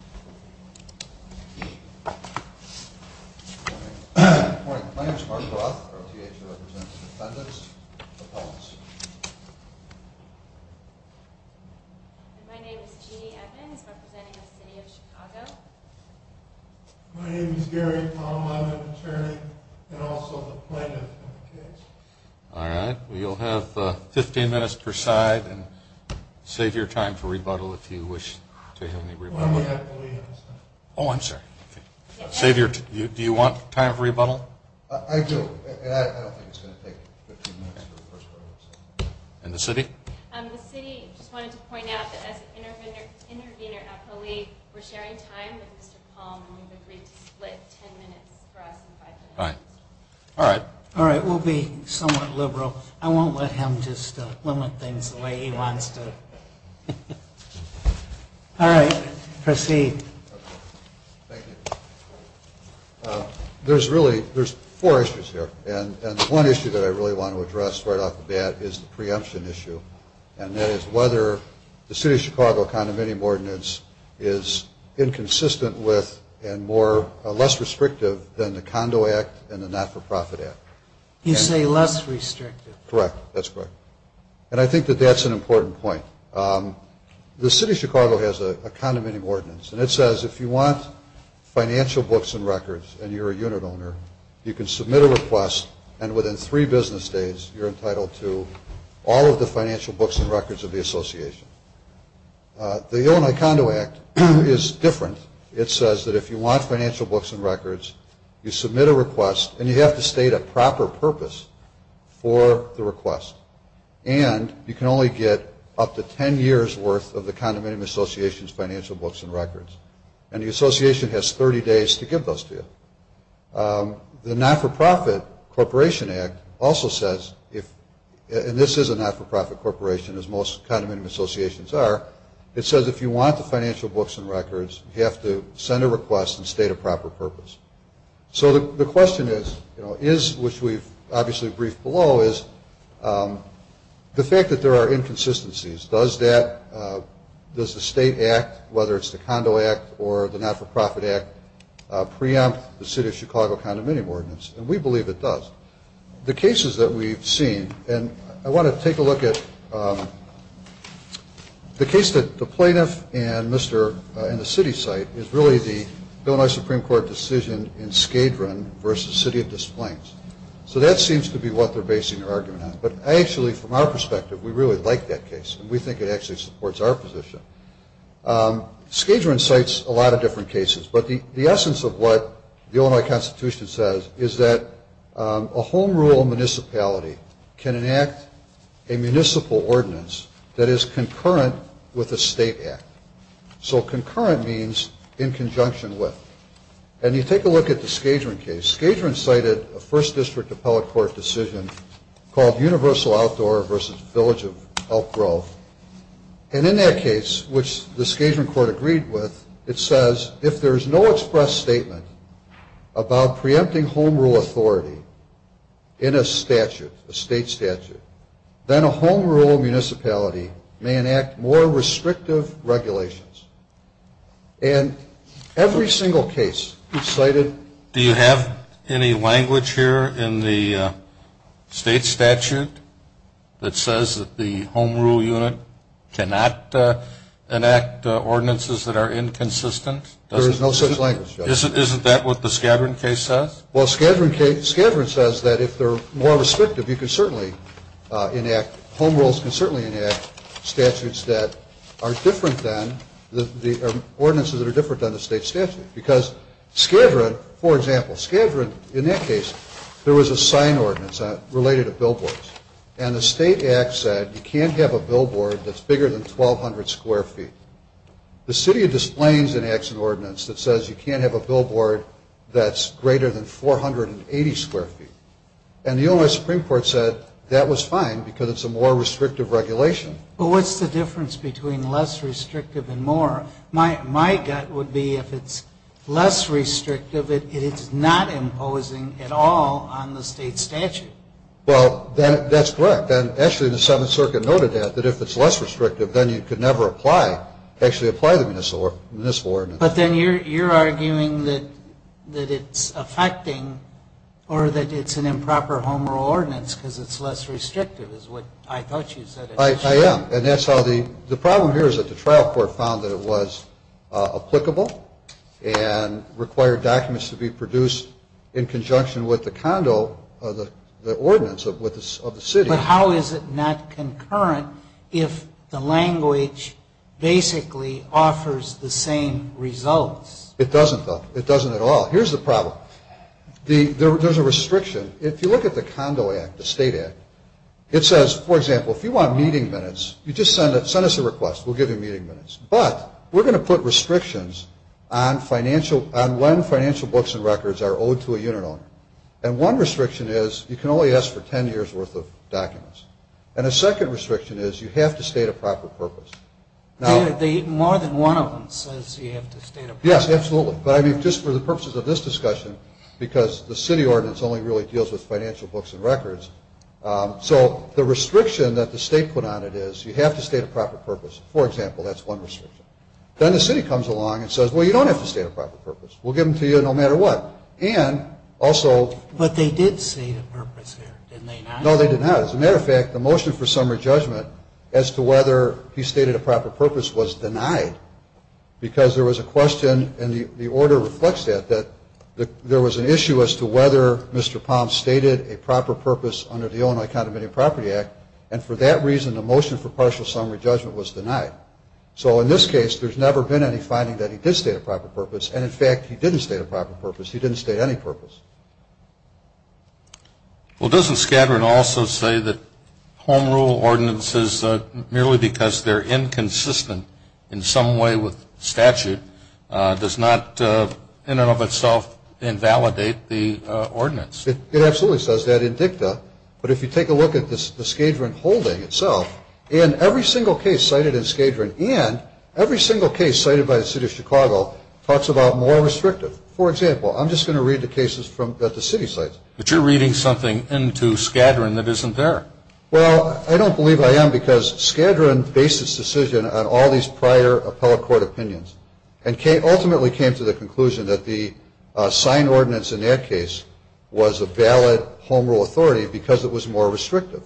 Good morning. My name is Mark Roth. Our THA represents defendants, appellants. My name is Jeannie Evans, representing the City of Chicago. My name is Gary Tom, I'm an attorney and also the plaintiff in the case. Alright, you'll have 15 minutes per side and save your time for rebuttal if you wish to have any rebuttal. Oh, I'm sorry. Do you want time for rebuttal? I do, and I don't think it's going to take 15 minutes for the first one. And the city? The city just wanted to point out that as an intervener appellee, we're sharing time with Mr. Palm, and we've agreed to split 10 minutes for us and 5 minutes for you. Alright. Alright, we'll be somewhat liberal. I won't let him just limit things the way he wants to. Alright, proceed. Thank you. There's really, there's four issues here, and one issue that I really want to address right off the bat is the preemption issue, and that is whether the City of Chicago Condominium Ordinance is inconsistent with and less restrictive than the Condo Act and the Not-for-Profit Act. You say less restrictive. Correct, that's correct, and I think that that's an important point. The City of Chicago has a Condominium Ordinance, and it says if you want financial books and records and you're a unit owner, you can submit a request, and within three business days, you're entitled to all of the financial books and records of the association. The Illinois Condo Act is different. It says that if you want financial books and records, you submit a request, and you have to state a proper purpose for the request, and you can only get up to 10 years' worth of the condominium association's financial books and records, and the association has 30 days to give those to you. The Not-for-Profit Corporation Act also says if, and this is a not-for-profit corporation, as most condominium associations are, it says if you want the financial books and records, you have to send a request and state a proper purpose. So the question is, which we've obviously briefed below, is the fact that there are inconsistencies, does the state act, whether it's the Condo Act or the Not-for-Profit Act, preempt the City of Chicago Condominium Ordinance? And we believe it does. The cases that we've seen, and I want to take a look at the case that the plaintiff and the city cite, is really the Illinois Supreme Court decision in Skadron versus City of Des Plaines. So that seems to be what they're basing their argument on. But actually, from our perspective, we really like that case, and we think it actually supports our position. Skadron cites a lot of different cases, but the essence of what the Illinois Constitution says is that a home rule municipality can enact a municipal ordinance that is concurrent with a state act. So concurrent means in conjunction with. And you take a look at the Skadron case. Skadron cited a First District Appellate Court decision called Universal Outdoor versus Village of Elk Grove. And in that case, which the Skadron Court agreed with, it says, if there is no express statement about preempting home rule authority in a statute, a state statute, then a home rule municipality may enact more restrictive regulations. And every single case cited. Do you have any language here in the state statute that says that the home rule unit cannot enact ordinances that are inconsistent? There is no such language, Judge. Isn't that what the Skadron case says? Well, Skadron says that if they're more restrictive, you can certainly enact, home rules can certainly enact statutes that are different than the ordinances that are different than the state statute. Because Skadron, for example, Skadron, in that case, there was a sign ordinance related to billboards. And the state act said you can't have a billboard that's bigger than 1,200 square feet. The city of Des Plaines enacts an ordinance that says you can't have a billboard that's greater than 480 square feet. And the Illinois Supreme Court said that was fine because it's a more restrictive regulation. Well, what's the difference between less restrictive and more? My gut would be if it's less restrictive, it is not imposing at all on the state statute. Well, that's correct. And actually the Seventh Circuit noted that, that if it's less restrictive, then you could never apply, actually apply the municipal ordinance. But then you're arguing that it's affecting or that it's an improper home rule ordinance because it's less restrictive is what I thought you said. I am. And that's how the problem here is that the trial court found that it was applicable and required documents to be produced in conjunction with the condo, the ordinance of the city. But how is it not concurrent if the language basically offers the same results? It doesn't, though. It doesn't at all. Here's the problem. There's a restriction. If you look at the Condo Act, the State Act, it says, for example, if you want meeting minutes, you just send us a request. We'll give you meeting minutes. But we're going to put restrictions on when financial books and records are owed to a unit owner. And one restriction is you can only ask for 10 years' worth of documents. And a second restriction is you have to state a proper purpose. More than one of them says you have to state a purpose. Yes, absolutely. But I mean, just for the purposes of this discussion, because the city ordinance only really deals with financial books and records. So the restriction that the state put on it is you have to state a proper purpose. For example, that's one restriction. Then the city comes along and says, well, you don't have to state a proper purpose. We'll give them to you no matter what. But they did state a purpose there, didn't they not? No, they did not. As a matter of fact, the motion for summary judgment as to whether he stated a proper purpose was denied because there was a question, and the order reflects that, that there was an issue as to whether Mr. Palm stated a proper purpose under the Illinois Condominium Property Act. And for that reason, the motion for partial summary judgment was denied. So in this case, there's never been any finding that he did state a proper purpose. And, in fact, he didn't state a proper purpose. He didn't state any purpose. Well, doesn't Skadron also say that home rule ordinances, merely because they're inconsistent in some way with statute, does not in and of itself invalidate the ordinance? It absolutely says that in dicta. But if you take a look at the Skadron holding itself, in every single case cited in Skadron, and every single case cited by the city of Chicago, talks about more restrictive. For example, I'm just going to read the cases that the city cites. But you're reading something into Skadron that isn't there. Well, I don't believe I am because Skadron based its decision on all these prior appellate court opinions and ultimately came to the conclusion that the signed ordinance in that case was a valid home rule authority because it was more restrictive.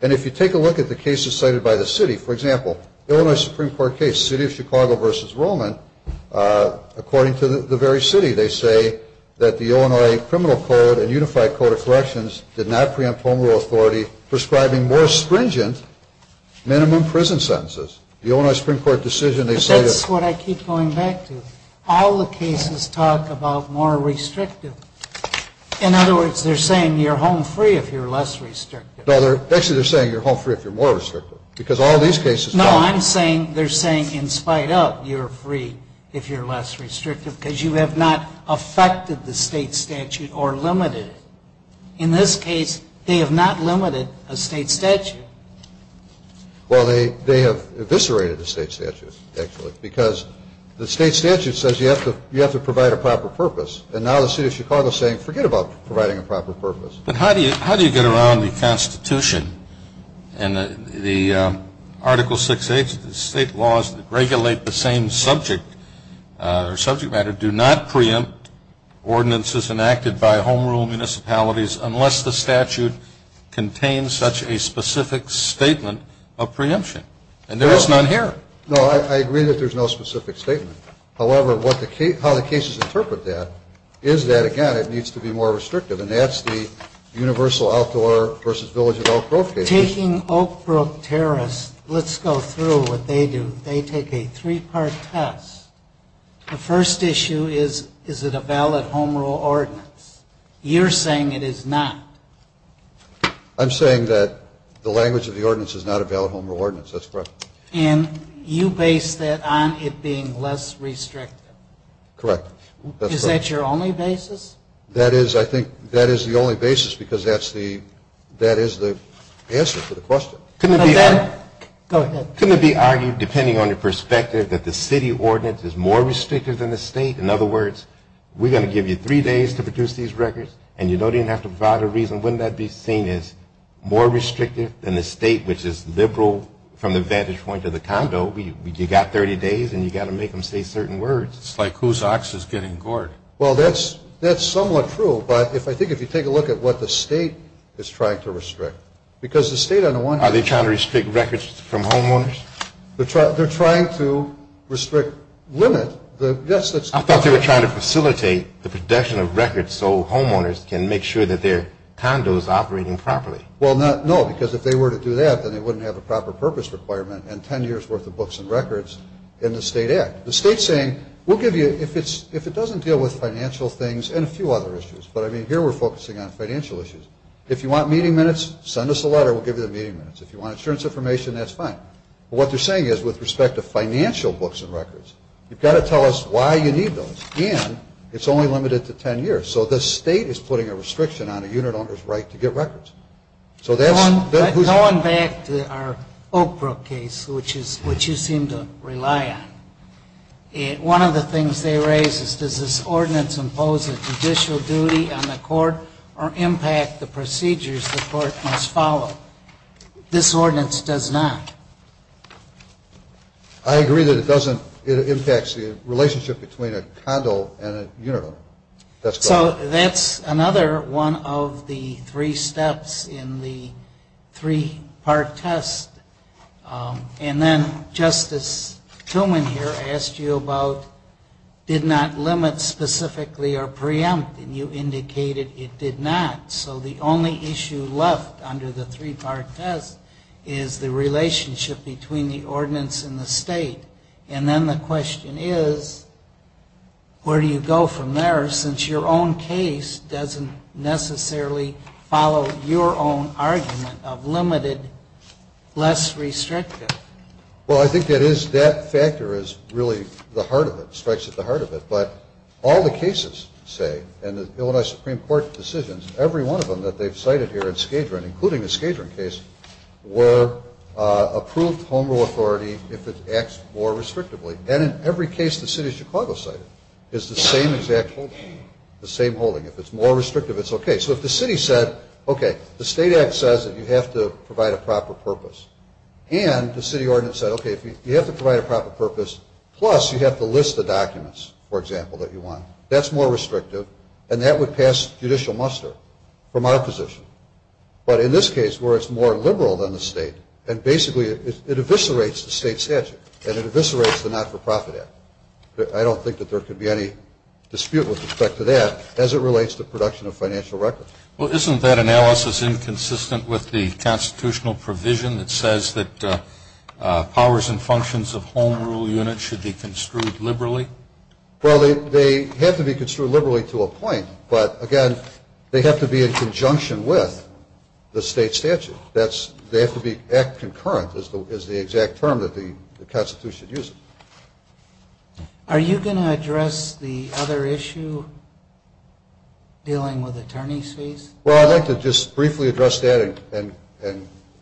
And if you take a look at the cases cited by the city, for example, the Illinois Supreme Court case, the city of Chicago versus Roman, according to the very city, they say that the Illinois criminal code and unified code of corrections did not preempt home rule authority prescribing more stringent minimum prison sentences. The Illinois Supreme Court decision, they say that. But that's what I keep going back to. All the cases talk about more restrictive. In other words, they're saying you're home free if you're less restrictive. Actually, they're saying you're home free if you're more restrictive. No, I'm saying they're saying in spite of you're free if you're less restrictive because you have not affected the state statute or limited it. In this case, they have not limited a state statute. Well, they have eviscerated the state statute, actually, because the state statute says you have to provide a proper purpose. And now the city of Chicago is saying forget about providing a proper purpose. But how do you get around the Constitution and the Article 6A state laws that regulate the same subject matter do not preempt ordinances enacted by home rule municipalities unless the statute contains such a specific statement of preemption? And there is none here. No, I agree that there's no specific statement. However, how the cases interpret that is that, again, it needs to be more restrictive. And that's the universal outdoor versus village of Oak Grove case. Taking Oak Brook Terrace, let's go through what they do. They take a three-part test. The first issue is, is it a valid home rule ordinance? You're saying it is not. I'm saying that the language of the ordinance is not a valid home rule ordinance. That's correct. And you base that on it being less restrictive. Correct. Is that your only basis? That is, I think, that is the only basis because that is the answer to the question. Go ahead. Couldn't it be argued, depending on your perspective, that the city ordinance is more restrictive than the state? In other words, we're going to give you three days to produce these records, and you don't even have to provide a reason. Wouldn't that be seen as more restrictive than the state, which is liberal from the vantage point of the condo? You've got 30 days, and you've got to make them say certain words. It's like whose ox is getting gored. Well, that's somewhat true. But I think if you take a look at what the state is trying to restrict, because the state on the one hand – Are they trying to restrict records from homeowners? They're trying to limit the – I thought they were trying to facilitate the production of records so homeowners can make sure that their condo is operating properly. Well, no, because if they were to do that, then they wouldn't have a proper purpose requirement and ten years' worth of books and records in the state act. The state is saying, we'll give you – if it doesn't deal with financial things and a few other issues, but I mean here we're focusing on financial issues. If you want meeting minutes, send us a letter. We'll give you the meeting minutes. If you want insurance information, that's fine. But what they're saying is with respect to financial books and records, you've got to tell us why you need those. And it's only limited to ten years. So the state is putting a restriction on a unit owner's right to get records. So that's – Going back to our Oak Brook case, which you seem to rely on, one of the things they raise is, does this ordinance impose a judicial duty on the court or impact the procedures the court must follow? This ordinance does not. I agree that it doesn't. It impacts the relationship between a condo and a unit owner. So that's another one of the three steps in the three-part test. And then Justice Tillman here asked you about, did not limit specifically or preempt, and you indicated it did not. So the only issue left under the three-part test is the relationship between the ordinance and the state. And then the question is, where do you go from there, since your own case doesn't necessarily follow your own argument of limited, less restrictive? Well, I think that is – that factor is really the heart of it, strikes at the heart of it. But all the cases, say, and the Illinois Supreme Court decisions, every one of them that they've cited here in Skadron, were approved home rule authority if it acts more restrictively. And in every case the city of Chicago cited is the same exact holding, the same holding. If it's more restrictive, it's okay. So if the city said, okay, the state act says that you have to provide a proper purpose, and the city ordinance said, okay, if you have to provide a proper purpose, plus you have to list the documents, for example, that you want, that's more restrictive, and that would pass judicial muster from our position. But in this case, where it's more liberal than the state, and basically it eviscerates the state statute and it eviscerates the not-for-profit act. I don't think that there could be any dispute with respect to that as it relates to production of financial records. Well, isn't that analysis inconsistent with the constitutional provision that says that powers and functions of home rule units should be construed liberally? Well, they have to be construed liberally to a point, but, again, they have to be in conjunction with the state statute. They have to be concurrent is the exact term that the Constitution uses. Are you going to address the other issue dealing with attorney's fees? Well, I'd like to just briefly address that, and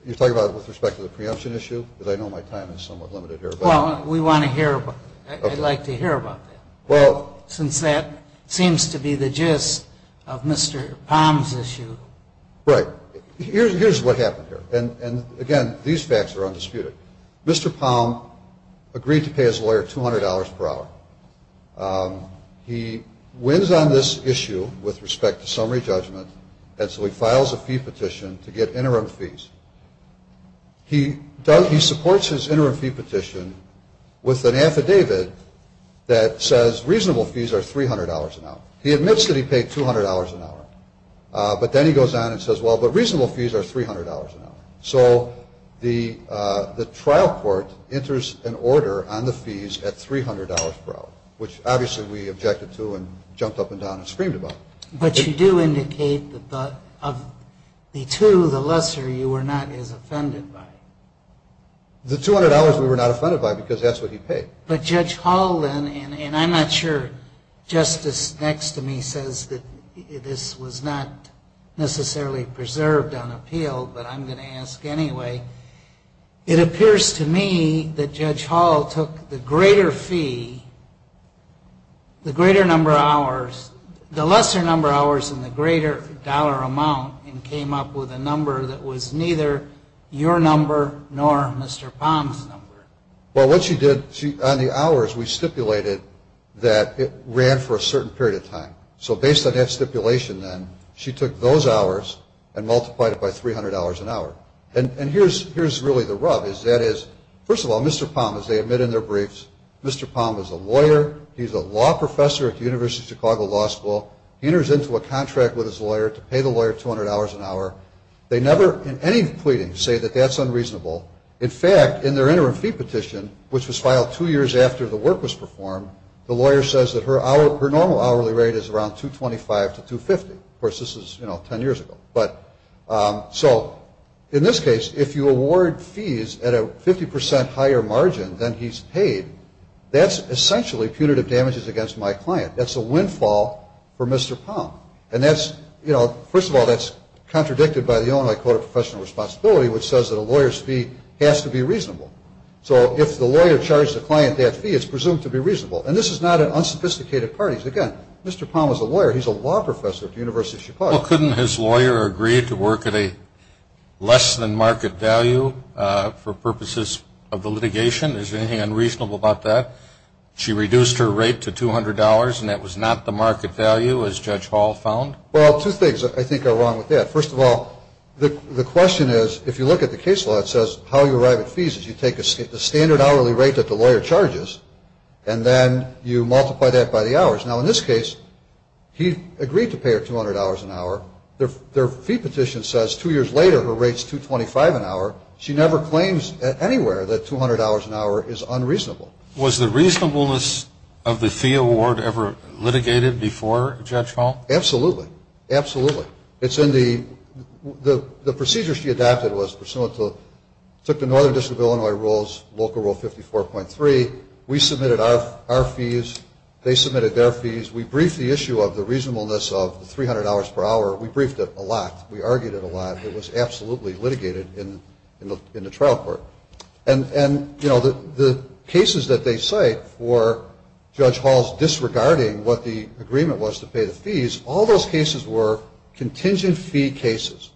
you're talking about it with respect to the preemption issue, because I know my time is somewhat limited here. Well, we want to hear about it. I'd like to hear about that. Well, since that seems to be the gist of Mr. Palm's issue. Right. Here's what happened here, and, again, these facts are undisputed. Mr. Palm agreed to pay his lawyer $200 per hour. He wins on this issue with respect to summary judgment, and so he files a fee petition to get interim fees. He supports his interim fee petition with an affidavit that says reasonable fees are $300 an hour. He admits that he paid $200 an hour, but then he goes on and says, well, but reasonable fees are $300 an hour. So the trial court enters an order on the fees at $300 per hour, which obviously we objected to and jumped up and down and screamed about. But you do indicate that of the two, the lesser you were not as offended by. The $200 we were not offended by because that's what he paid. But Judge Hall then, and I'm not sure, Justice next to me says that this was not necessarily preserved on appeal, but I'm going to ask anyway. It appears to me that Judge Hall took the greater fee, the greater number of hours in the greater dollar amount and came up with a number that was neither your number nor Mr. Palm's number. Well, what she did, on the hours we stipulated that it ran for a certain period of time. So based on that stipulation then, she took those hours and multiplied it by $300 an hour. And here's really the rub is that is, first of all, Mr. Palm, as they admit in their briefs, Mr. Palm is a lawyer. He's a law professor at the University of Chicago Law School. He enters into a contract with his lawyer to pay the lawyer $200 an hour. They never in any pleading say that that's unreasonable. In fact, in their interim fee petition, which was filed two years after the work was performed, the lawyer says that her normal hourly rate is around $225 to $250. Of course, this is 10 years ago. So in this case, if you award fees at a 50% higher margin than he's paid, that's essentially punitive damages against my client. That's a windfall for Mr. Palm. And that's, you know, first of all, that's contradicted by the Illinois Code of Professional Responsibility, which says that a lawyer's fee has to be reasonable. So if the lawyer charged the client that fee, it's presumed to be reasonable. And this is not an unsophisticated parties. Again, Mr. Palm is a lawyer. He's a law professor at the University of Chicago. Well, couldn't his lawyer agree to work at a less than market value for purposes of the litigation? Is there anything unreasonable about that? She reduced her rate to $200, and that was not the market value, as Judge Hall found? Well, two things I think are wrong with that. First of all, the question is, if you look at the case law, it says how you arrive at fees is you take the standard hourly rate that the lawyer charges, and then you multiply that by the hours. Now, in this case, he agreed to pay her $200 an hour. Their fee petition says two years later her rate's $225 an hour. She never claims anywhere that $200 an hour is unreasonable. Was the reasonableness of the fee award ever litigated before, Judge Hall? Absolutely. Absolutely. It's in the – the procedure she adopted was pursuant to – took the Northern District of Illinois rules, Local Rule 54.3. We submitted our fees. They submitted their fees. We briefed the issue of the reasonableness of the $300 per hour. We briefed it a lot. We argued it a lot. It was absolutely litigated in the trial court. And, you know, the cases that they cite for Judge Hall's disregarding what the agreement was to pay the fees, all those cases were contingent fee cases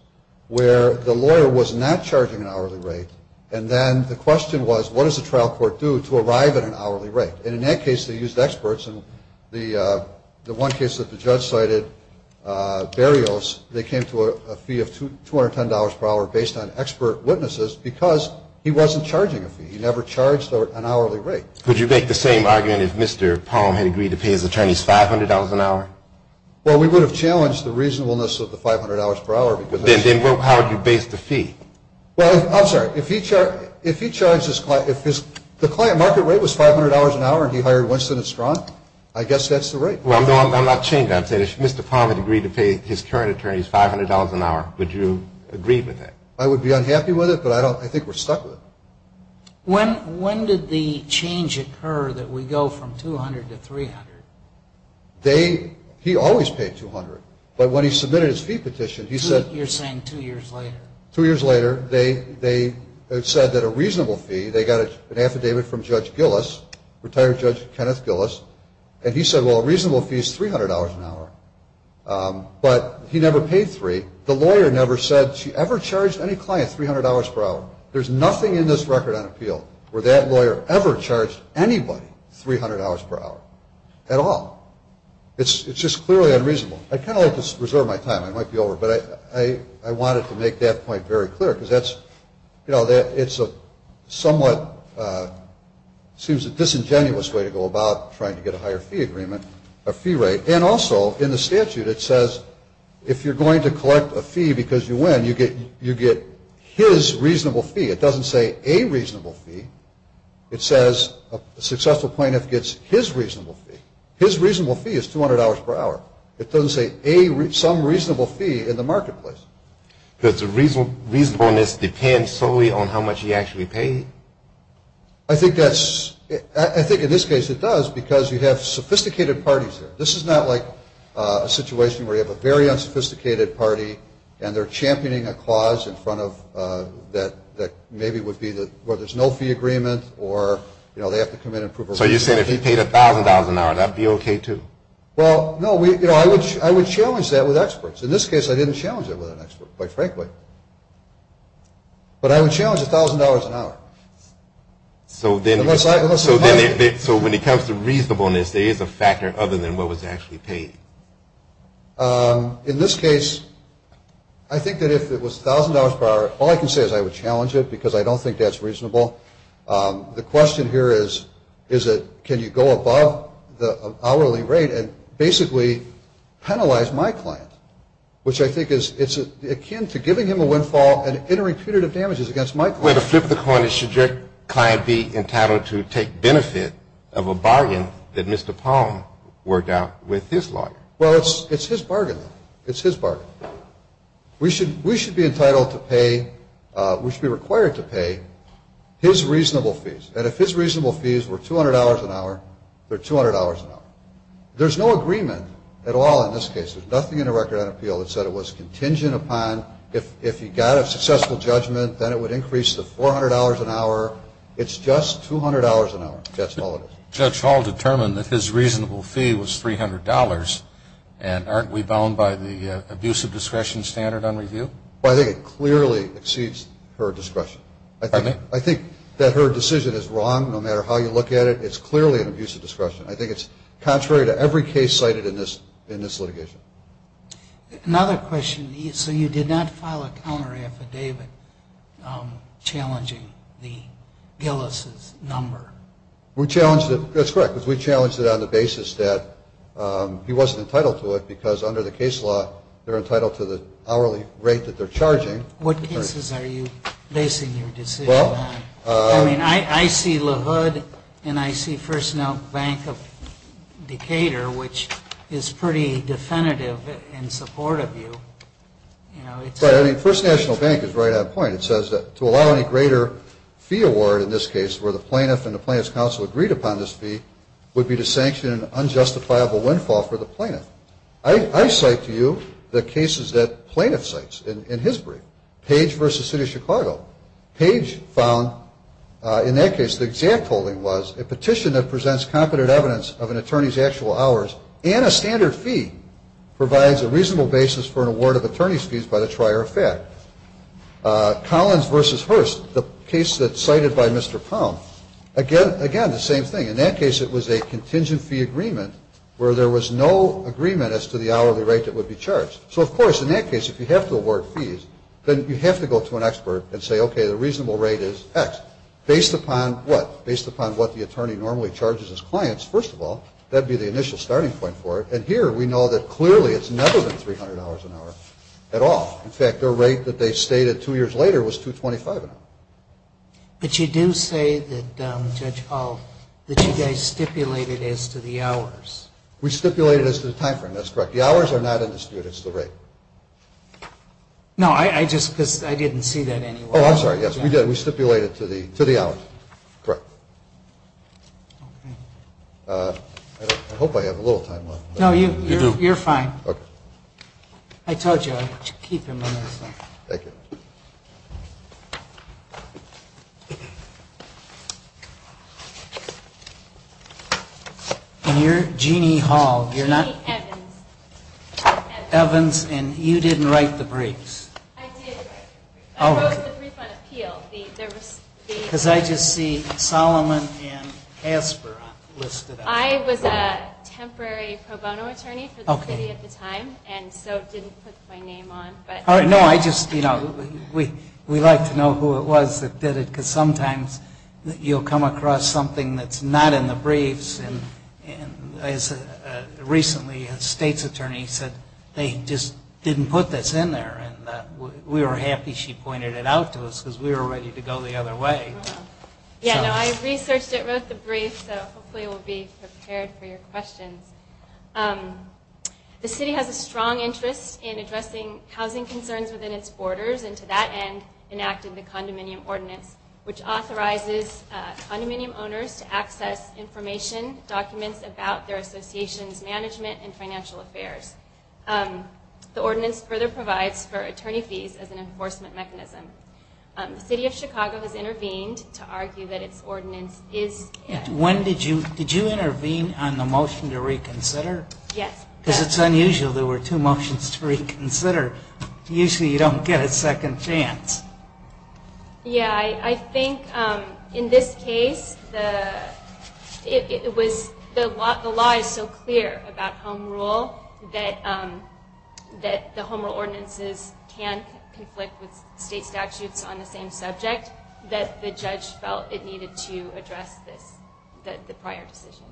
where the lawyer was not charging an hourly rate, and then the question was, what does the trial court do to arrive at an hourly rate? And in that case, they used experts. In the one case that the judge cited, Berrios, they came to a fee of $210 per hour based on expert witnesses because he wasn't charging a fee. He never charged an hourly rate. Would you make the same argument if Mr. Palm had agreed to pay his attorneys $500 an hour? Well, we would have challenged the reasonableness of the $500 per hour. Then how would you base the fee? Well, I'm sorry. If he charged – if the client market rate was $500 an hour and he hired Winston and Strunk, I guess that's the rate. Well, I'm not changing that. I'm saying if Mr. Palm had agreed to pay his current attorneys $500 an hour, would you agree with that? I would be unhappy with it, but I think we're stuck with it. When did the change occur that we go from $200 to $300? They – he always paid $200. But when he submitted his fee petition, he said – You're saying two years later. Two years later, they said that a reasonable fee, they got an affidavit from Judge Gillis, retired Judge Kenneth Gillis, and he said, well, a reasonable fee is $300 an hour. But he never paid $300. The lawyer never said she ever charged any client $300 per hour. There's nothing in this record on appeal where that lawyer ever charged anybody $300 per hour at all. It's just clearly unreasonable. I'd kind of like to reserve my time. I might be over, but I wanted to make that point very clear because that's – what seems a disingenuous way to go about trying to get a higher fee agreement, a fee rate. And also, in the statute, it says if you're going to collect a fee because you win, you get his reasonable fee. It doesn't say a reasonable fee. It says a successful plaintiff gets his reasonable fee. His reasonable fee is $200 per hour. It doesn't say some reasonable fee in the marketplace. Does reasonableness depend solely on how much he actually paid? I think that's – I think in this case it does because you have sophisticated parties here. This is not like a situation where you have a very unsophisticated party and they're championing a clause in front of – that maybe would be the – where there's no fee agreement or, you know, they have to come in and prove a reasonable fee. So you're saying if he paid $1,000 an hour, that would be okay too? Well, no. You know, I would challenge that with experts. In this case, I didn't challenge it with an expert, quite frankly. But I would challenge $1,000 an hour. So when it comes to reasonableness, there is a factor other than what was actually paid? In this case, I think that if it was $1,000 per hour, all I can say is I would challenge it because I don't think that's reasonable. The question here is can you go above the hourly rate and basically penalize my client, which I think is akin to giving him a windfall and entering punitive damages against my client. Well, to flip the coin, should your client be entitled to take benefit of a bargain that Mr. Palm worked out with his lawyer? Well, it's his bargain. It's his bargain. We should be entitled to pay, we should be required to pay his reasonable fees. And if his reasonable fees were $200 an hour, they're $200 an hour. There's no agreement at all in this case. There's nothing in the record on appeal that said it was contingent upon if he got a successful judgment, then it would increase to $400 an hour. It's just $200 an hour. That's all it is. Judge Hall determined that his reasonable fee was $300, and aren't we bound by the abuse of discretion standard on review? Well, I think it clearly exceeds her discretion. Pardon me? I think that her decision is wrong no matter how you look at it. It's clearly an abuse of discretion. I think it's contrary to every case cited in this litigation. Another question. So you did not file a counteraffidavit challenging the Gillis' number? We challenged it. That's correct, because we challenged it on the basis that he wasn't entitled to it because under the case law they're entitled to the hourly rate that they're charging. What cases are you basing your decision on? I mean, I see LaHood and I see First Note Bank of Decatur, which is pretty definitive in support of you. Right. I mean, First National Bank is right on point. It says that to allow any greater fee award in this case where the plaintiff and the plaintiff's counsel agreed upon this fee would be to sanction an unjustifiable windfall for the plaintiff. I cite to you the cases that plaintiff cites in his brief, Page v. City of Chicago. Page found in that case the exact holding was a petition that presents competent evidence of an attorney's actual hours and a standard fee provides a reasonable basis for an award of attorney's fees by the trier of fact. Collins v. Hearst, the case that's cited by Mr. Pound, again, the same thing. In that case it was a contingent fee agreement where there was no agreement as to the hourly rate that would be charged. So, of course, in that case if you have to award fees, then you have to go to an expert and say, okay, the reasonable rate is X. Based upon what? Based upon what the attorney normally charges his clients, first of all. That would be the initial starting point for it. And here we know that clearly it's never been $300 an hour at all. In fact, the rate that they stated two years later was $225 an hour. But you do say that, Judge Hall, that you guys stipulated as to the hours. We stipulated as to the time frame. That's correct. The hours are not in dispute. It's the rate. No, I just because I didn't see that anywhere. Oh, I'm sorry. Yes, we did. We stipulated to the hours. Correct. I hope I have a little time left. No, you do. You're fine. Okay. I told you I'd keep him on this one. Thank you. And you're Jeanne Hall. Jeanne Evans. Evans, and you didn't write the briefs. I did. I wrote the brief on appeal. Because I just see Solomon and Asper listed. I was a temporary pro bono attorney for the city at the time. And so I didn't put my name on. No, I just, you know, we like to know who it was that did it. Because sometimes you'll come across something that's not in the briefs. And recently a state's attorney said they just didn't put this in there. And we were happy she pointed it out to us because we were ready to go the other way. Yeah, no, I researched it, wrote the brief, so hopefully we'll be prepared for your questions. The city has a strong interest in addressing housing concerns within its borders. And to that end enacted the condominium ordinance, which authorizes condominium owners to access information, documents about their association's management and financial affairs. The ordinance further provides for attorney fees as an enforcement mechanism. The city of Chicago has intervened to argue that its ordinance is. When did you, did you intervene on the motion to reconsider? Yes. Because it's unusual. There were two motions to reconsider. Usually you don't get a second chance. Yeah, I think in this case the, it was, the law is so clear about home rule that the home rule ordinances can conflict with state statutes on the same subject that the judge felt it needed to address this, that the prior decision.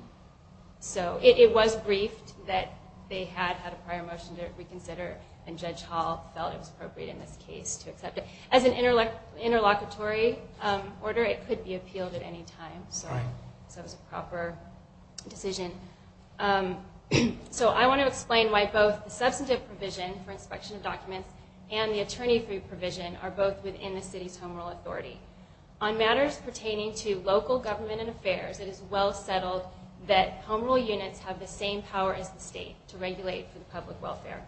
So it was briefed that they had had a prior motion to reconsider and judge hall felt it was appropriate in this case to accept it as an interlock interlocutory order. It could be appealed at any time. So it was a proper decision. So I want to explain why both the substantive provision for inspection of documents and the attorney fee provision are both within the city's home rule authority on matters pertaining to local government and affairs. It is well settled that home rule units have the same power as the state to regulate for the public welfare.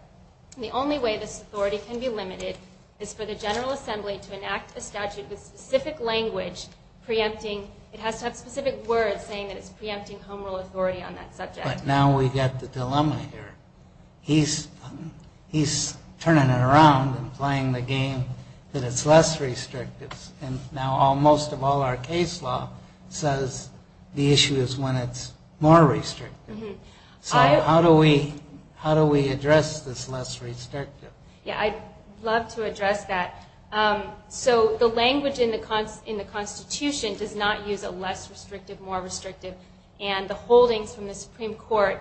The only way this authority can be limited is for the general assembly to enact a statute with specific language preempting. It has to have specific words saying that it's preempting home rule authority on that subject. Now we get the dilemma here. He's turning it around and playing the game that it's less restrictive. And now most of all our case law says the issue is when it's more restrictive. So how do we address this less restrictive? Yeah, I'd love to address that. So the language in the Constitution does not use a less restrictive, more restrictive. And the holdings from the Supreme Court,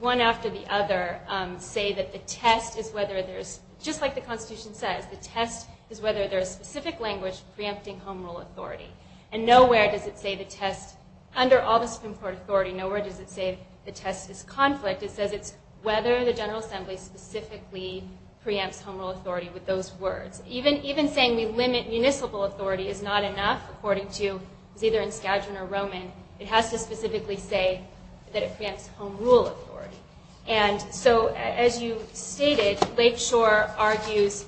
one after the other, say that the test is whether there's, just like the Constitution says, the test is whether there's specific language preempting home rule authority. And nowhere does it say the test, under all the Supreme Court authority, nowhere does it say the test is conflict. It says it's whether the general assembly specifically preempts home rule authority with those words. Even saying we limit municipal authority is not enough, according to, it's either in Skagen or Roman. It has to specifically say that it preempts home rule authority. And so, as you stated, Lakeshore argues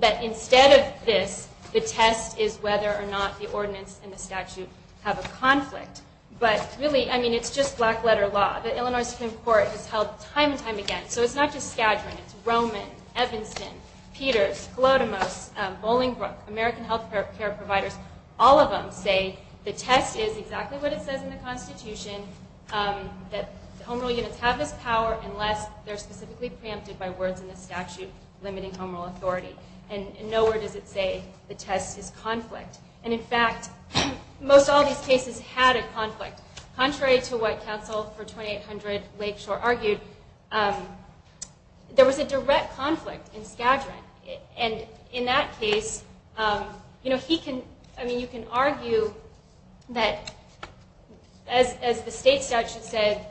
that instead of this, the test is whether or not the ordinance and the statute have a conflict. But really, I mean, it's just black letter law. The Illinois Supreme Court has held time and time again. So it's not just Skagen, it's Roman, Evanston, Peters, Sklodemos, Bolingbroke, American health care providers, all of them say the test is exactly what it says in the Constitution, that home rule units have this power unless they're specifically preempted by words in the statute limiting home rule authority. And nowhere does it say the test is conflict. And, in fact, most all these cases had a conflict. Contrary to what counsel for 2800 Lakeshore argued, there was a direct conflict in Skagen. And in that case, you can argue that, as the state statute said,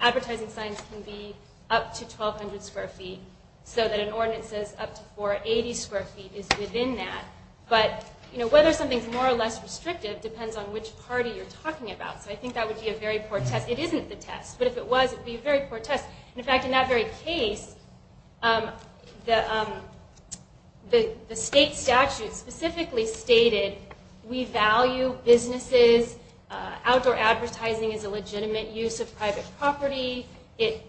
advertising signs can be up to 1200 square feet, so that an ordinance says up to 480 square feet is within that. But whether something's more or less restrictive depends on which party you're talking about. So I think that would be a very poor test. It isn't the test, but if it was, it would be a very poor test. In fact, in that very case, the state statute specifically stated we value businesses. Outdoor advertising is a legitimate use of private property. It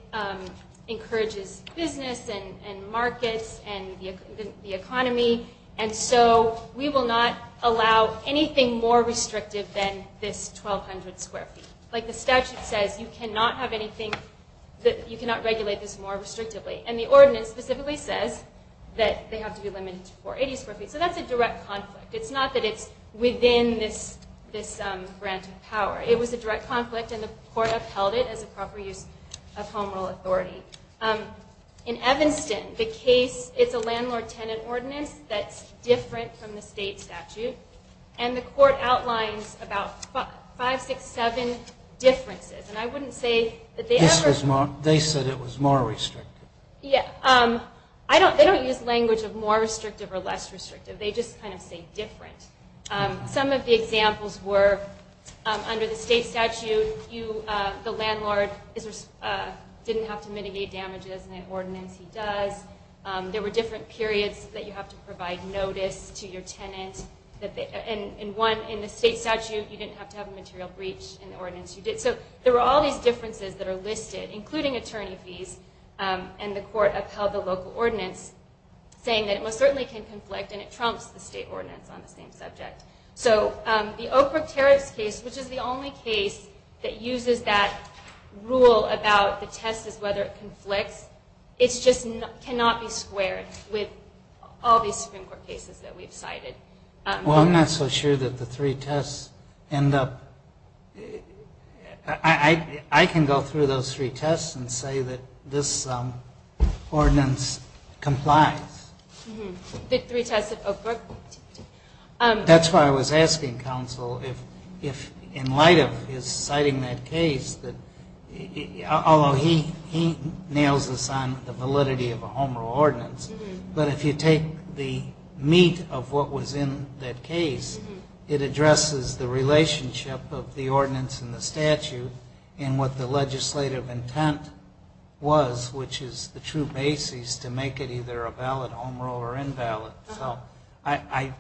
encourages business and markets and the economy. And so we will not allow anything more restrictive than this 1200 square feet. Like the statute says, you cannot regulate this more restrictively. And the ordinance specifically says that they have to be limited to 480 square feet. So that's a direct conflict. It's not that it's within this grant of power. It was a direct conflict, and the court upheld it as a proper use of home rule authority. In Evanston, the case, it's a landlord-tenant ordinance that's different from the state statute. And the court outlines about five, six, seven differences. And I wouldn't say that they ever- They said it was more restrictive. Yeah. They don't use language of more restrictive or less restrictive. They just kind of say different. Some of the examples were under the state statute, the landlord didn't have to mitigate damages, and that ordinance he does. There were different periods that you have to provide notice to your tenant and, one, in the state statute, you didn't have to have a material breach in the ordinance you did. So there were all these differences that are listed, including attorney fees, and the court upheld the local ordinance saying that it most certainly can conflict and it trumps the state ordinance on the same subject. So the Oak Brook Tariffs case, which is the only case that uses that rule about the test as whether it conflicts, it just cannot be squared with all these Supreme Court cases that we've cited. Well, I'm not so sure that the three tests end up- I can go through those three tests and say that this ordinance complies. The three tests at Oak Brook? That's why I was asking, counsel, if in light of his citing that case, although he nails us on the validity of a home rule ordinance, but if you take the meat of what was in that case, it addresses the relationship of the ordinance and the statute and what the legislative intent was, which is the true basis to make it either a valid home rule or invalid. So I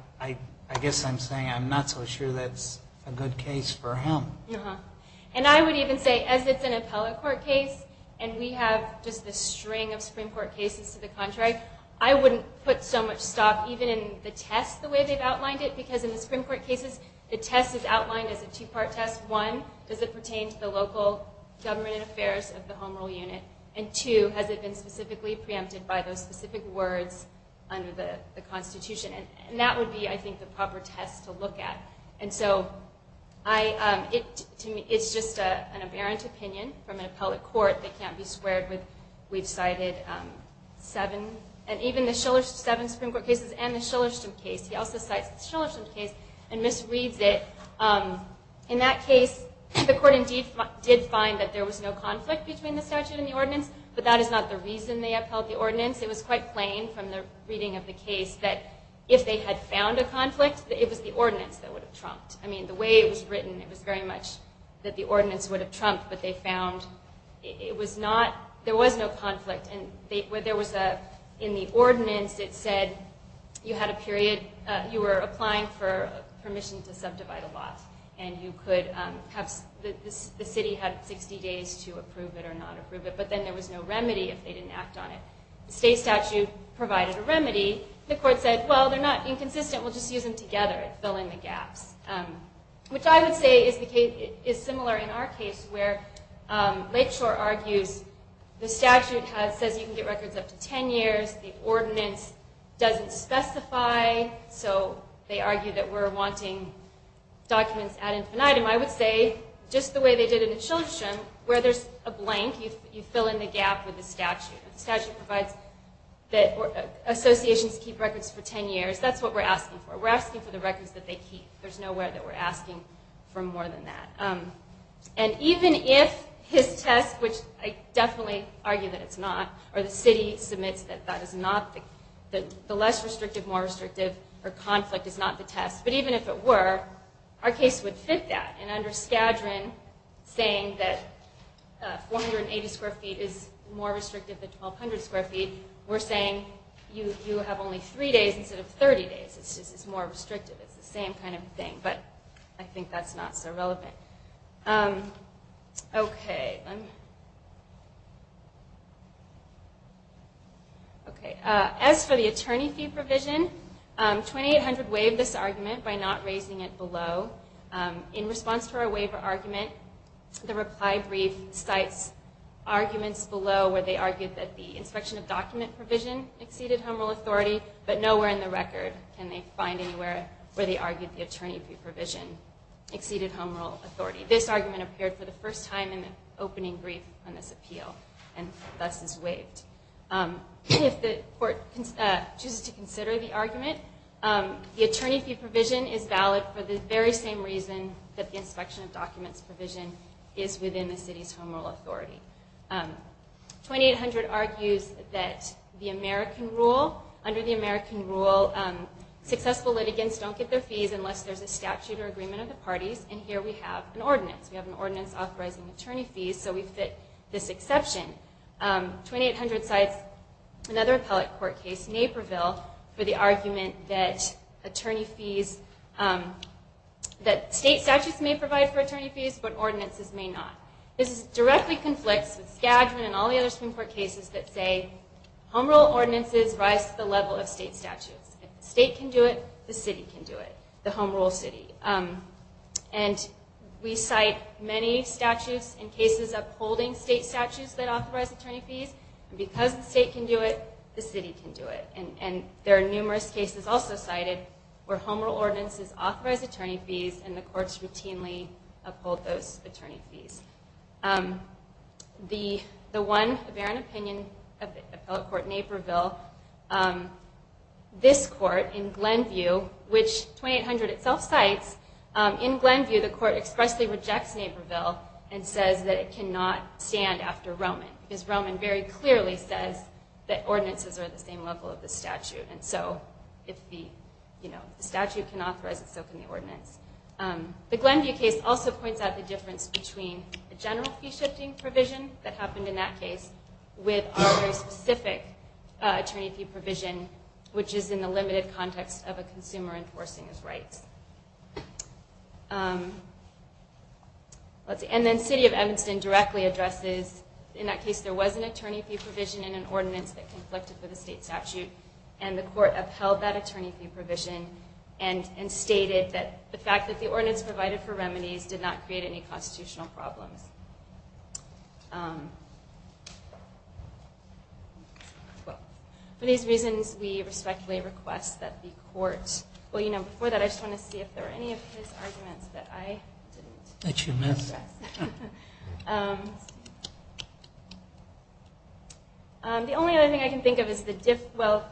guess I'm saying I'm not so sure that's a good case for him. And I would even say, as it's an appellate court case, and we have just this string of Supreme Court cases to the contrary, I wouldn't put so much stock even in the test the way they've outlined it, because in the Supreme Court cases, the test is outlined as a two-part test. One, does it pertain to the local government and affairs of the home rule unit? And two, has it been specifically preempted by those specific words under the Constitution? And that would be, I think, the proper test to look at. And so, to me, it's just an aberrant opinion from an appellate court that can't be squared with, we've cited seven, and even the Shiller, seven Supreme Court cases and the Shillerston case. He also cites the Shillerston case and misreads it. In that case, the court indeed did find that there was no conflict between the statute and the ordinance, but that is not the reason they upheld the ordinance. It was quite plain from the reading of the case that if they had found a conflict, it was the ordinance that would have trumped. I mean, the way it was written, it was very much that the ordinance would have trumped, but they found there was no conflict. In the ordinance, it said you were applying for permission to subdivide a lot, and the city had 60 days to approve it or not approve it, but then there was no remedy if they didn't act on it. The state statute provided a remedy. The court said, well, they're not inconsistent. We'll just use them together and fill in the gaps, which I would say is similar in our case where Lakeshore argues the statute says you can get records up to 10 years. The ordinance doesn't specify, so they argue that we're wanting documents added to an item. I would say just the way they did in the Shillerston, where there's a blank, you fill in the gap with the statute. The statute provides that associations keep records for 10 years. That's what we're asking for. We're asking for the records that they keep. There's nowhere that we're asking for more than that. And even if his test, which I definitely argue that it's not, or the city submits that the less restrictive, more restrictive for conflict is not the test, but even if it were, our case would fit that. And under Skadron, saying that 480 square feet is more restrictive than 1,200 square feet, we're saying you have only three days instead of 30 days. It's more restrictive. It's the same kind of thing, but I think that's not so relevant. As for the attorney fee provision, 2800 waived this argument by not raising it below. In response to our waiver argument, the reply brief cites arguments below where they argued that the inspection of document provision exceeded home rule authority, but nowhere in the record can they find anywhere where they argued the attorney fee provision exceeded home rule authority. This argument appeared for the first time in the opening brief on this appeal, and thus is waived. If the court chooses to consider the argument, the attorney fee provision is valid for the very same reason that the inspection of documents provision is within the city's home rule authority. 2800 argues that the American rule, under the American rule, successful litigants don't get their fees unless there's a statute or agreement of the parties, and here we have an ordinance. We have an ordinance authorizing attorney fees, so we fit this exception. 2800 cites another appellate court case, Naperville, for the argument that state statutes may provide for attorney fees, but ordinances may not. This directly conflicts with Skadden and all the other Supreme Court cases that say home rule ordinances rise to the level of state statutes. If the state can do it, the city can do it, the home rule city. And we cite many statutes and cases upholding state statutes that authorize attorney fees, and because the state can do it, the city can do it. And there are numerous cases also cited where home rule ordinances authorize attorney fees and the courts routinely uphold those attorney fees. The one barren opinion of the appellate court Naperville, this court in Glenview, which 2800 itself cites, in Glenview the court expressly rejects Naperville and says that it cannot stand after Roman, because Roman very clearly says that ordinances are at the same level of the statute, and so if the statute can authorize it, so can the ordinance. The Glenview case also points out the difference between the general fee shifting provision that happened in that case with our very specific attorney fee provision, which is in the limited context of a consumer enforcing his rights. And then City of Evanston directly addresses, in that case there was an attorney fee provision in an ordinance that conflicted with a state statute, and the court upheld that attorney fee provision and stated that the fact that the ordinance provided for remedies did not create any constitutional problems. Well, for these reasons we respectfully request that the court, well, you know, before that I just want to see if there are any of his arguments that I didn't address. That you missed. The only other thing I can think of is the, well,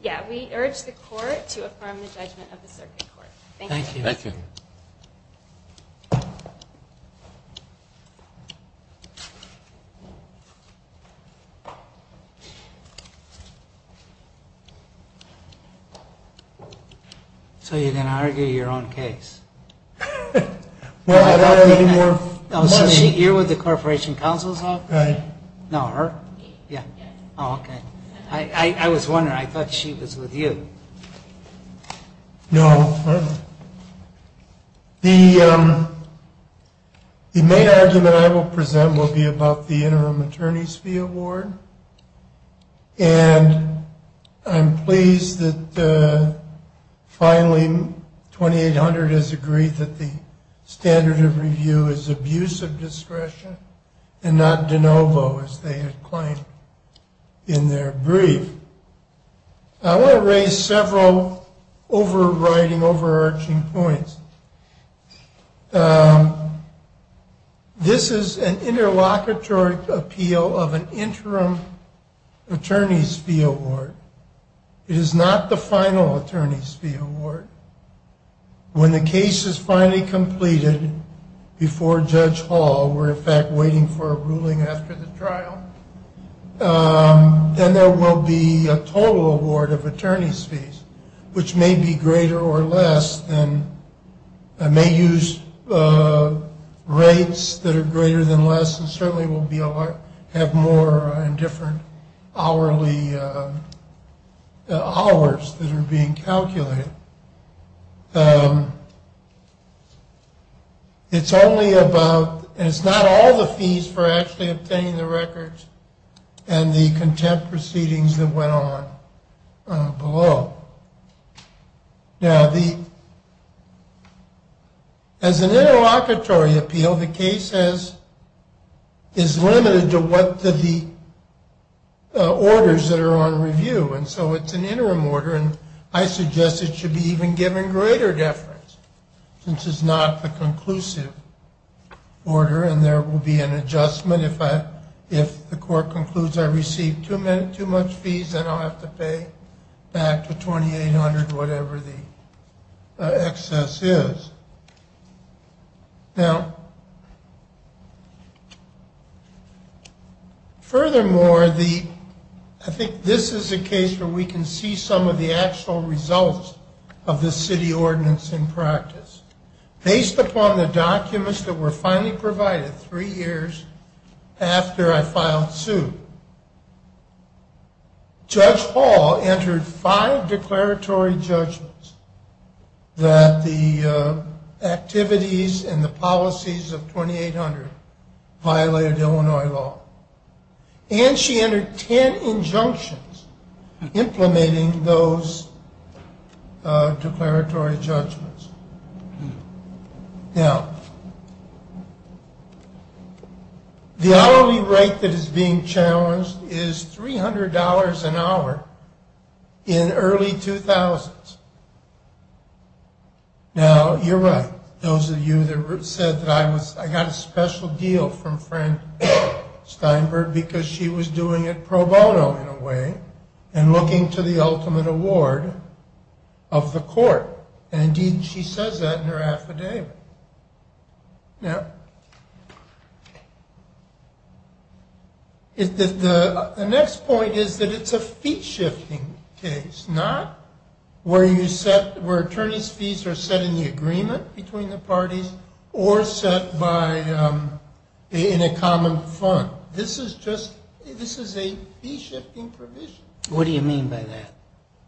yeah, we urge the court to affirm the judgment of the circuit court. Thank you. Thank you. Thank you. So you're going to argue your own case? You're with the Corporation Counsel's Office? Right. No, her? Yeah. Oh, okay. I was wondering, I thought she was with you. No. The main argument I will present will be about the interim attorney's fee award, and I'm pleased that finally 2800 has agreed that the standard of review is abuse of discretion and not de novo, as they had claimed in their brief. I want to raise several overriding, overarching points. This is an interlocutory appeal of an interim attorney's fee award. It is not the final attorney's fee award. When the case is finally completed before Judge Hall, we're in fact waiting for a ruling after the trial, then there will be a total award of attorney's fees, which may be greater or less and may use rates that are greater than less and certainly will have more in different hourly hours that are being calculated. It's only about, and it's not all the fees for actually obtaining the records and the contempt proceedings that went on below. Now, as an interlocutory appeal, the case is limited to what the orders that are on review, and so it's an interim order, and I suggest it should be even given greater deference since it's not the conclusive order and there will be an adjustment if the court concludes I received too much fees, then I'll have to pay back the 2800, whatever the excess is. Now, furthermore, I think this is a case where we can see some of the actual results of the city ordinance in practice. Based upon the documents that were finally provided three years after I filed suit, Judge Hall entered five declaratory judgments that the activities and the policies of 2800 violated Illinois law, and she entered ten injunctions implementing those declaratory judgments. Now, the hourly rate that is being challenged is $300 an hour in early 2000s. Now, you're right. Those of you that said that I got a special deal from Frank Steinberg because she was doing it pro bono in a way and looking to the ultimate award of the court, and indeed she says that in her affidavit. Now, the next point is that it's a fee-shifting case, not where attorneys' fees are set in the agreement between the parties or set in a common fund. This is a fee-shifting provision. What do you mean by that?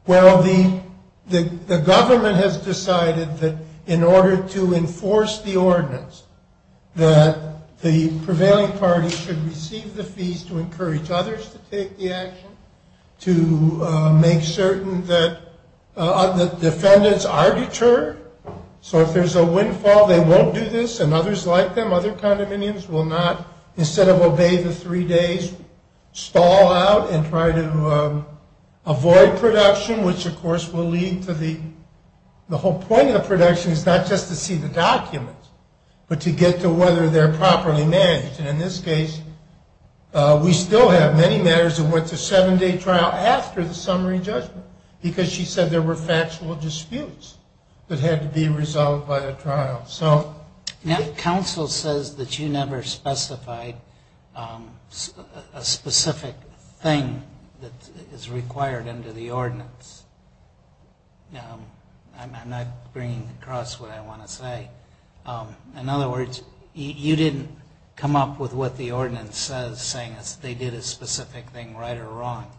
Well, the government has decided that in order to enforce the ordinance, that the prevailing party should receive the fees to encourage others to take the action, to make certain that the defendants are deterred. So if there's a windfall, they won't do this, and others like them, other condominiums, will not, which, of course, will lead to the whole point of the production is not just to see the documents, but to get to whether they're properly managed. And in this case, we still have many matters that went to seven-day trial after the summary judgment because she said there were factual disputes that had to be resolved by the trial. Now, counsel says that you never specified a specific thing that is required under the ordinance. Now, I'm not bringing across what I want to say. In other words, you didn't come up with what the ordinance says, saying they did a specific thing right or wrong.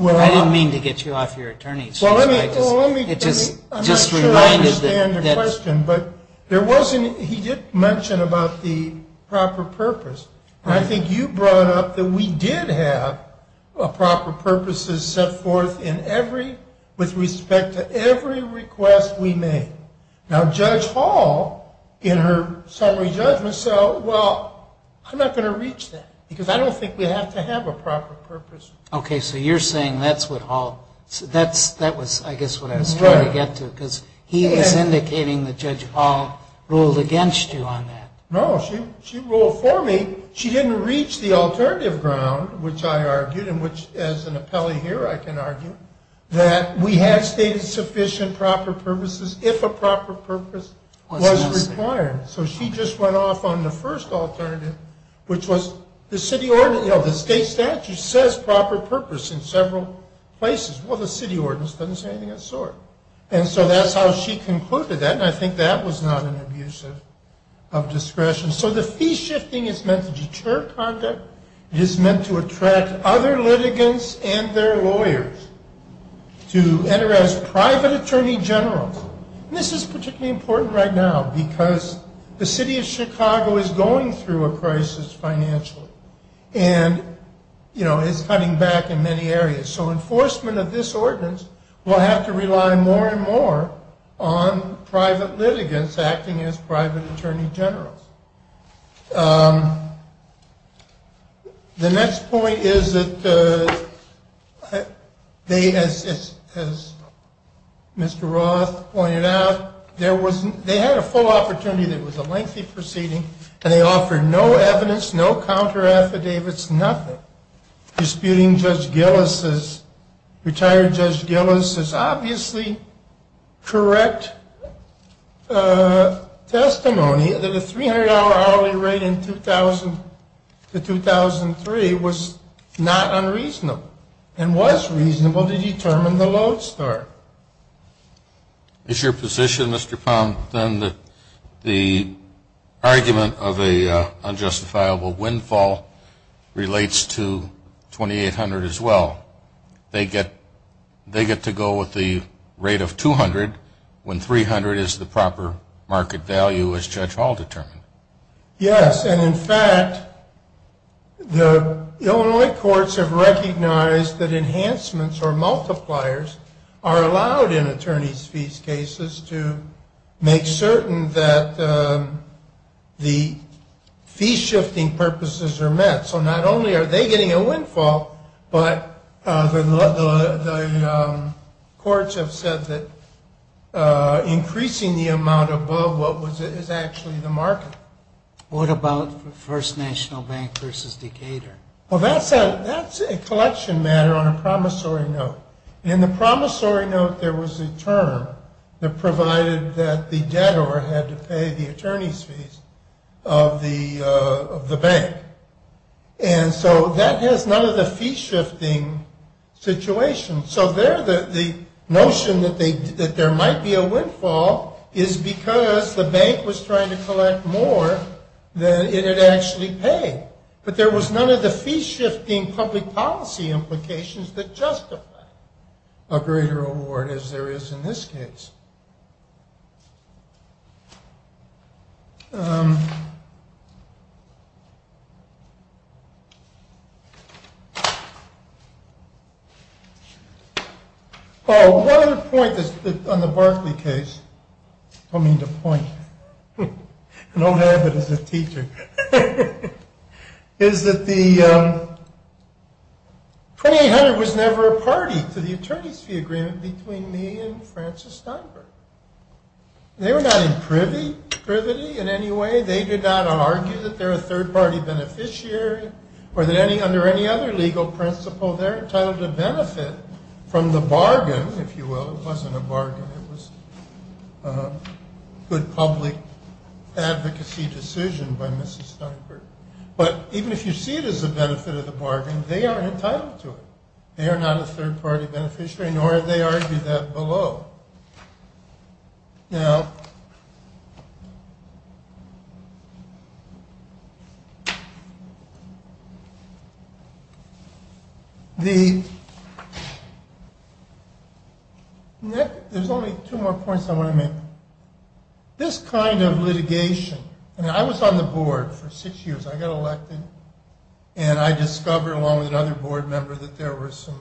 I didn't mean to get you off your attorney's shoes. I'm not sure I understand your question, but he did mention about the proper purpose, and I think you brought up that we did have proper purposes set forth with respect to every request we made. Now, Judge Hall, in her summary judgment said, well, I'm not going to reach that because I don't think we have to have a proper purpose. Okay. So you're saying that's what Hall – that was, I guess, what I was trying to get to because he was indicating that Judge Hall ruled against you on that. No. She ruled for me. She didn't reach the alternative ground, which I argued and which, as an appellee here, I can argue, that we had stated sufficient proper purposes if a proper purpose was required. So she just went off on the first alternative, which was the state statute says proper purpose in several places. Well, the city ordinance doesn't say anything of the sort. And so that's how she concluded that, and I think that was not an abuse of discretion. So the fee shifting is meant to deter conduct. It is meant to attract other litigants and their lawyers to enter as private attorney generals. And this is particularly important right now because the city of Chicago is going through a crisis financially and is cutting back in many areas. So enforcement of this ordinance will have to rely more and more on private litigants acting as private attorney generals. The next point is that they, as Mr. Roth pointed out, they had a full opportunity. It was a lengthy proceeding, and they offered no evidence, no counter affidavits, nothing. Disputing Judge Gillis, retired Judge Gillis, is obviously correct testimony that a $300,000 fine and a $300 hourly rate in 2000 to 2003 was not unreasonable and was reasonable to determine the load store. Is your position, Mr. Pound, then that the argument of an unjustifiable windfall relates to 2800 as well? They get to go with the rate of 200 when 300 is the proper market value as Judge Hall determined? Yes. And, in fact, the Illinois courts have recognized that enhancements or multipliers are allowed in attorney's fees cases to make certain that the fee shifting purposes are met. So not only are they getting a windfall, but the courts have said that increasing the amount above what is actually the market. What about First National Bank versus Decatur? Well, that's a collection matter on a promissory note. In the promissory note, there was a term that provided that the debtor had to pay the attorney's fees of the bank. And so that has none of the fee shifting situation. So there the notion that there might be a windfall is because the bank was trying to collect more than it had actually paid. But there was none of the fee shifting public policy implications that justify a greater award as there is in this case. Paul, one other point on the Barclay case, I mean the point, don't have it as a teacher, is that the 2800 was never a party to the attorney's fee agreement between me and Francis Steinberg. They were not in privity in any way. They did not argue that they're a third party beneficiary or that under any other legal principle, they're entitled to benefit from the bargain, if you will. It wasn't a bargain, it was a good public advocacy decision by Mrs. Steinberg. But even if you see it as a benefit of the bargain, they are entitled to it. They are not a third party beneficiary, nor have they argued that below. Now, there's only two more points I want to make. This kind of litigation, and I was on the board for six years, I got elected, and I discovered along with another board member that there were some,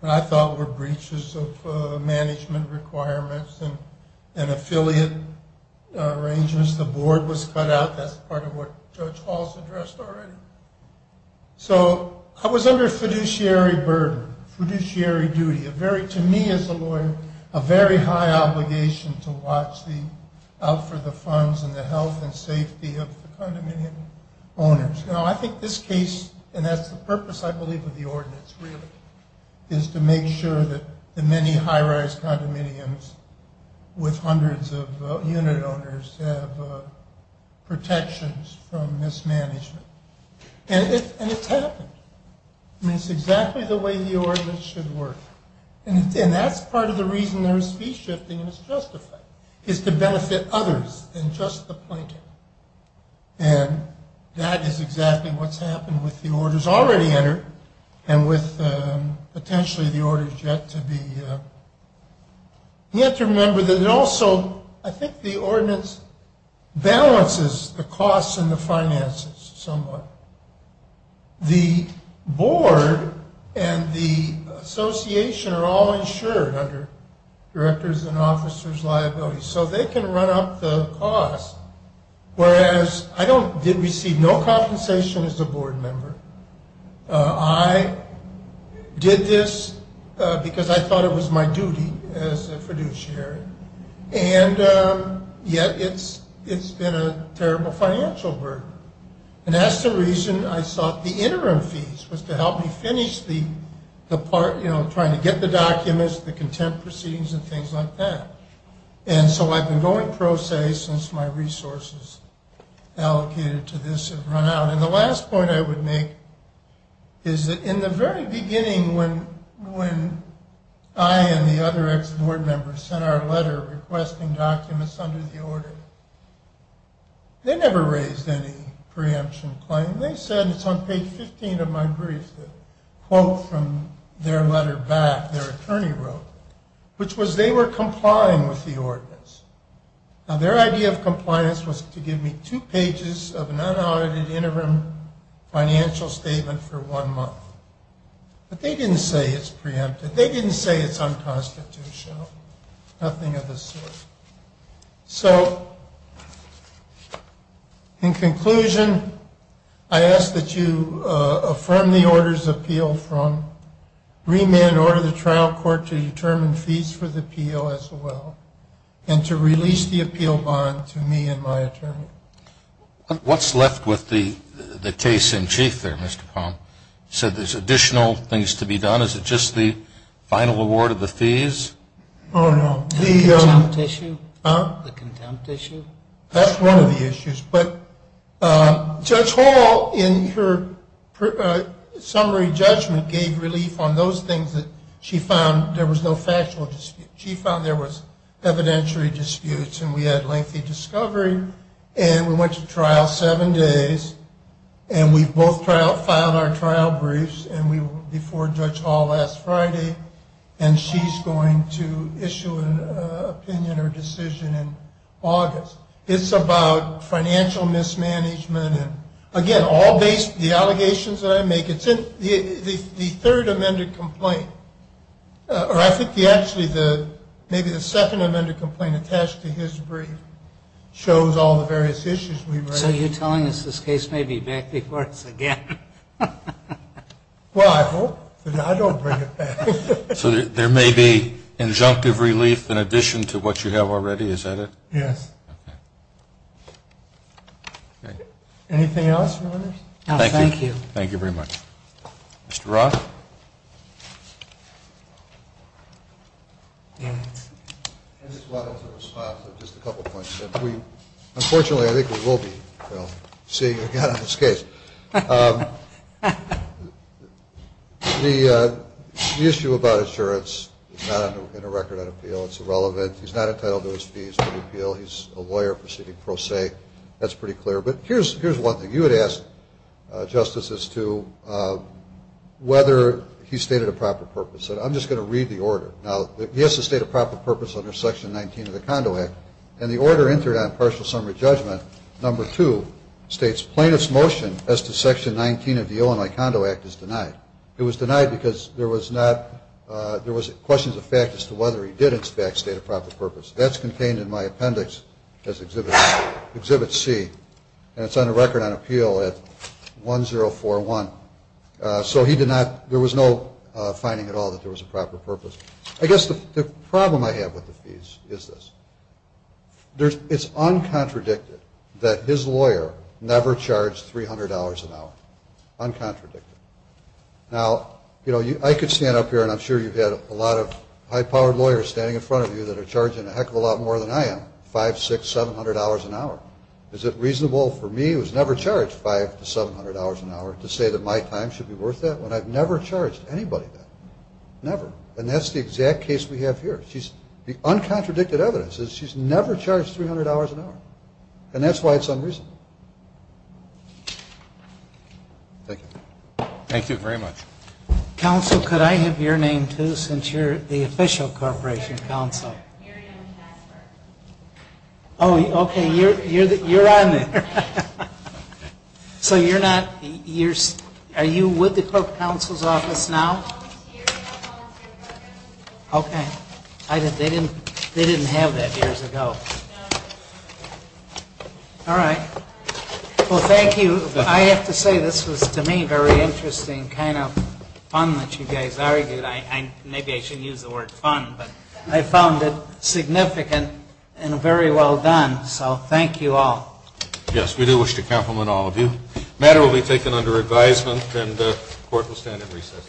what I thought were breaches of management requirements and affiliate arrangements. The board was cut out. That's part of what Judge Hall's addressed already. So I was under fiduciary burden, fiduciary duty, a very, to me as a lawyer, a very high obligation to watch out for the funds and the health and safety of the condominium owners. Now, I think this case, and that's the purpose, I believe, of the ordinance, really, is to make sure that the many high-rise condominiums with hundreds of unit owners have protections from mismanagement. And it's happened. I mean, it's exactly the way the ordinance should work. And that's part of the reason there's fee shifting, and it's justified, is to benefit others than just the plaintiff. And that is exactly what's happened with the orders already entered and with potentially the orders yet to be. You have to remember that it also, I think the ordinance balances the costs and the finances somewhat. The board and the association are all insured under directors and officers' liabilities, so they can run up the cost, whereas I did receive no compensation as a board member. I did this because I thought it was my duty as a fiduciary, and yet it's been a terrible financial burden. And that's the reason I sought the interim fees, was to help me finish the part, you know, trying to get the documents, the contempt proceedings, and things like that. And so I've been going pro se since my resources allocated to this have run out. And the last point I would make is that in the very beginning, when I and the other ex-board members sent our letter requesting documents under the order, they never raised any preemption claim. They said it's on page 15 of my brief, the quote from their letter back their attorney wrote, which was they were complying with the ordinance. Now, their idea of compliance was to give me two pages of an unaudited interim financial statement for one month. But they didn't say it's preempted. They didn't say it's unconstitutional, nothing of the sort. So in conclusion, I ask that you affirm the order's appeal from remand order the trial court to determine fees for the appeal as well, and to release the appeal bond to me and my attorney. What's left with the case in chief there, Mr. Palm? You said there's additional things to be done. Is it just the final award of the fees? Oh, no. The contempt issue? Huh? The contempt issue? That's one of the issues. But Judge Hall, in her summary judgment, gave relief on those things that she found there was no factual dispute. She found there was evidentiary disputes, and we had lengthy discovery. And we went to trial seven days, and we both filed our trial briefs before Judge Hall last Friday. And she's going to issue an opinion or decision in August. It's about financial mismanagement and, again, all the allegations that I make, it's in the third amended complaint. Or I think actually maybe the second amended complaint attached to his brief shows all the various issues we've raised. So you're telling us this case may be back before us again? Well, I hope. I don't bring it back. So there may be injunctive relief in addition to what you have already? Is that it? Yes. Okay. Anything else, Your Honors? No, thank you. Thank you very much. Mr. Roth? I just wanted to respond to just a couple of points. Unfortunately, I think we will be seeing again on this case. The issue about insurance is not in a record on appeal. It's irrelevant. He's not entitled to his fees for the appeal. He's a lawyer proceeding pro se. That's pretty clear. But here's one thing. You had asked, Justice, as to whether he stated a proper purpose. I'm just going to read the order. Now, he has to state a proper purpose under Section 19 of the Condo Act. And the order entered on partial summary judgment, number two, states plaintiff's motion as to Section 19 of the Illinois Condo Act is denied. It was denied because there was questions of fact as to whether he did in fact state a proper purpose. That's contained in my appendix as Exhibit C. And it's on the record on appeal at 1041. So he did not, there was no finding at all that there was a proper purpose. I guess the problem I have with the fees is this. It's uncontradicted that his lawyer never charged $300 an hour. Uncontradicted. Now, you know, I could stand up here, and I'm sure you've had a lot of high-powered lawyers standing in front of you that are charging a heck of a lot more than I am, $500, $600, $700 an hour. Is it reasonable for me, who has never charged $500 to $700 an hour, to say that my time should be worth that when I've never charged anybody that? Never. And that's the exact case we have here. The uncontradicted evidence is she's never charged $300 an hour. And that's why it's unreasonable. Thank you. Thank you very much. Counsel, could I have your name, too, since you're the official corporation counsel? Yes. Oh, okay, you're on there. So you're not, are you with the clerk counsel's office now? Okay. They didn't have that years ago. All right. Well, thank you. I have to say this was, to me, a very interesting kind of fun that you guys argued. Maybe I shouldn't use the word fun, but I found it significant and very well done. So thank you all. Yes, we do wish to compliment all of you. The matter will be taken under advisement and the court will stand at recess.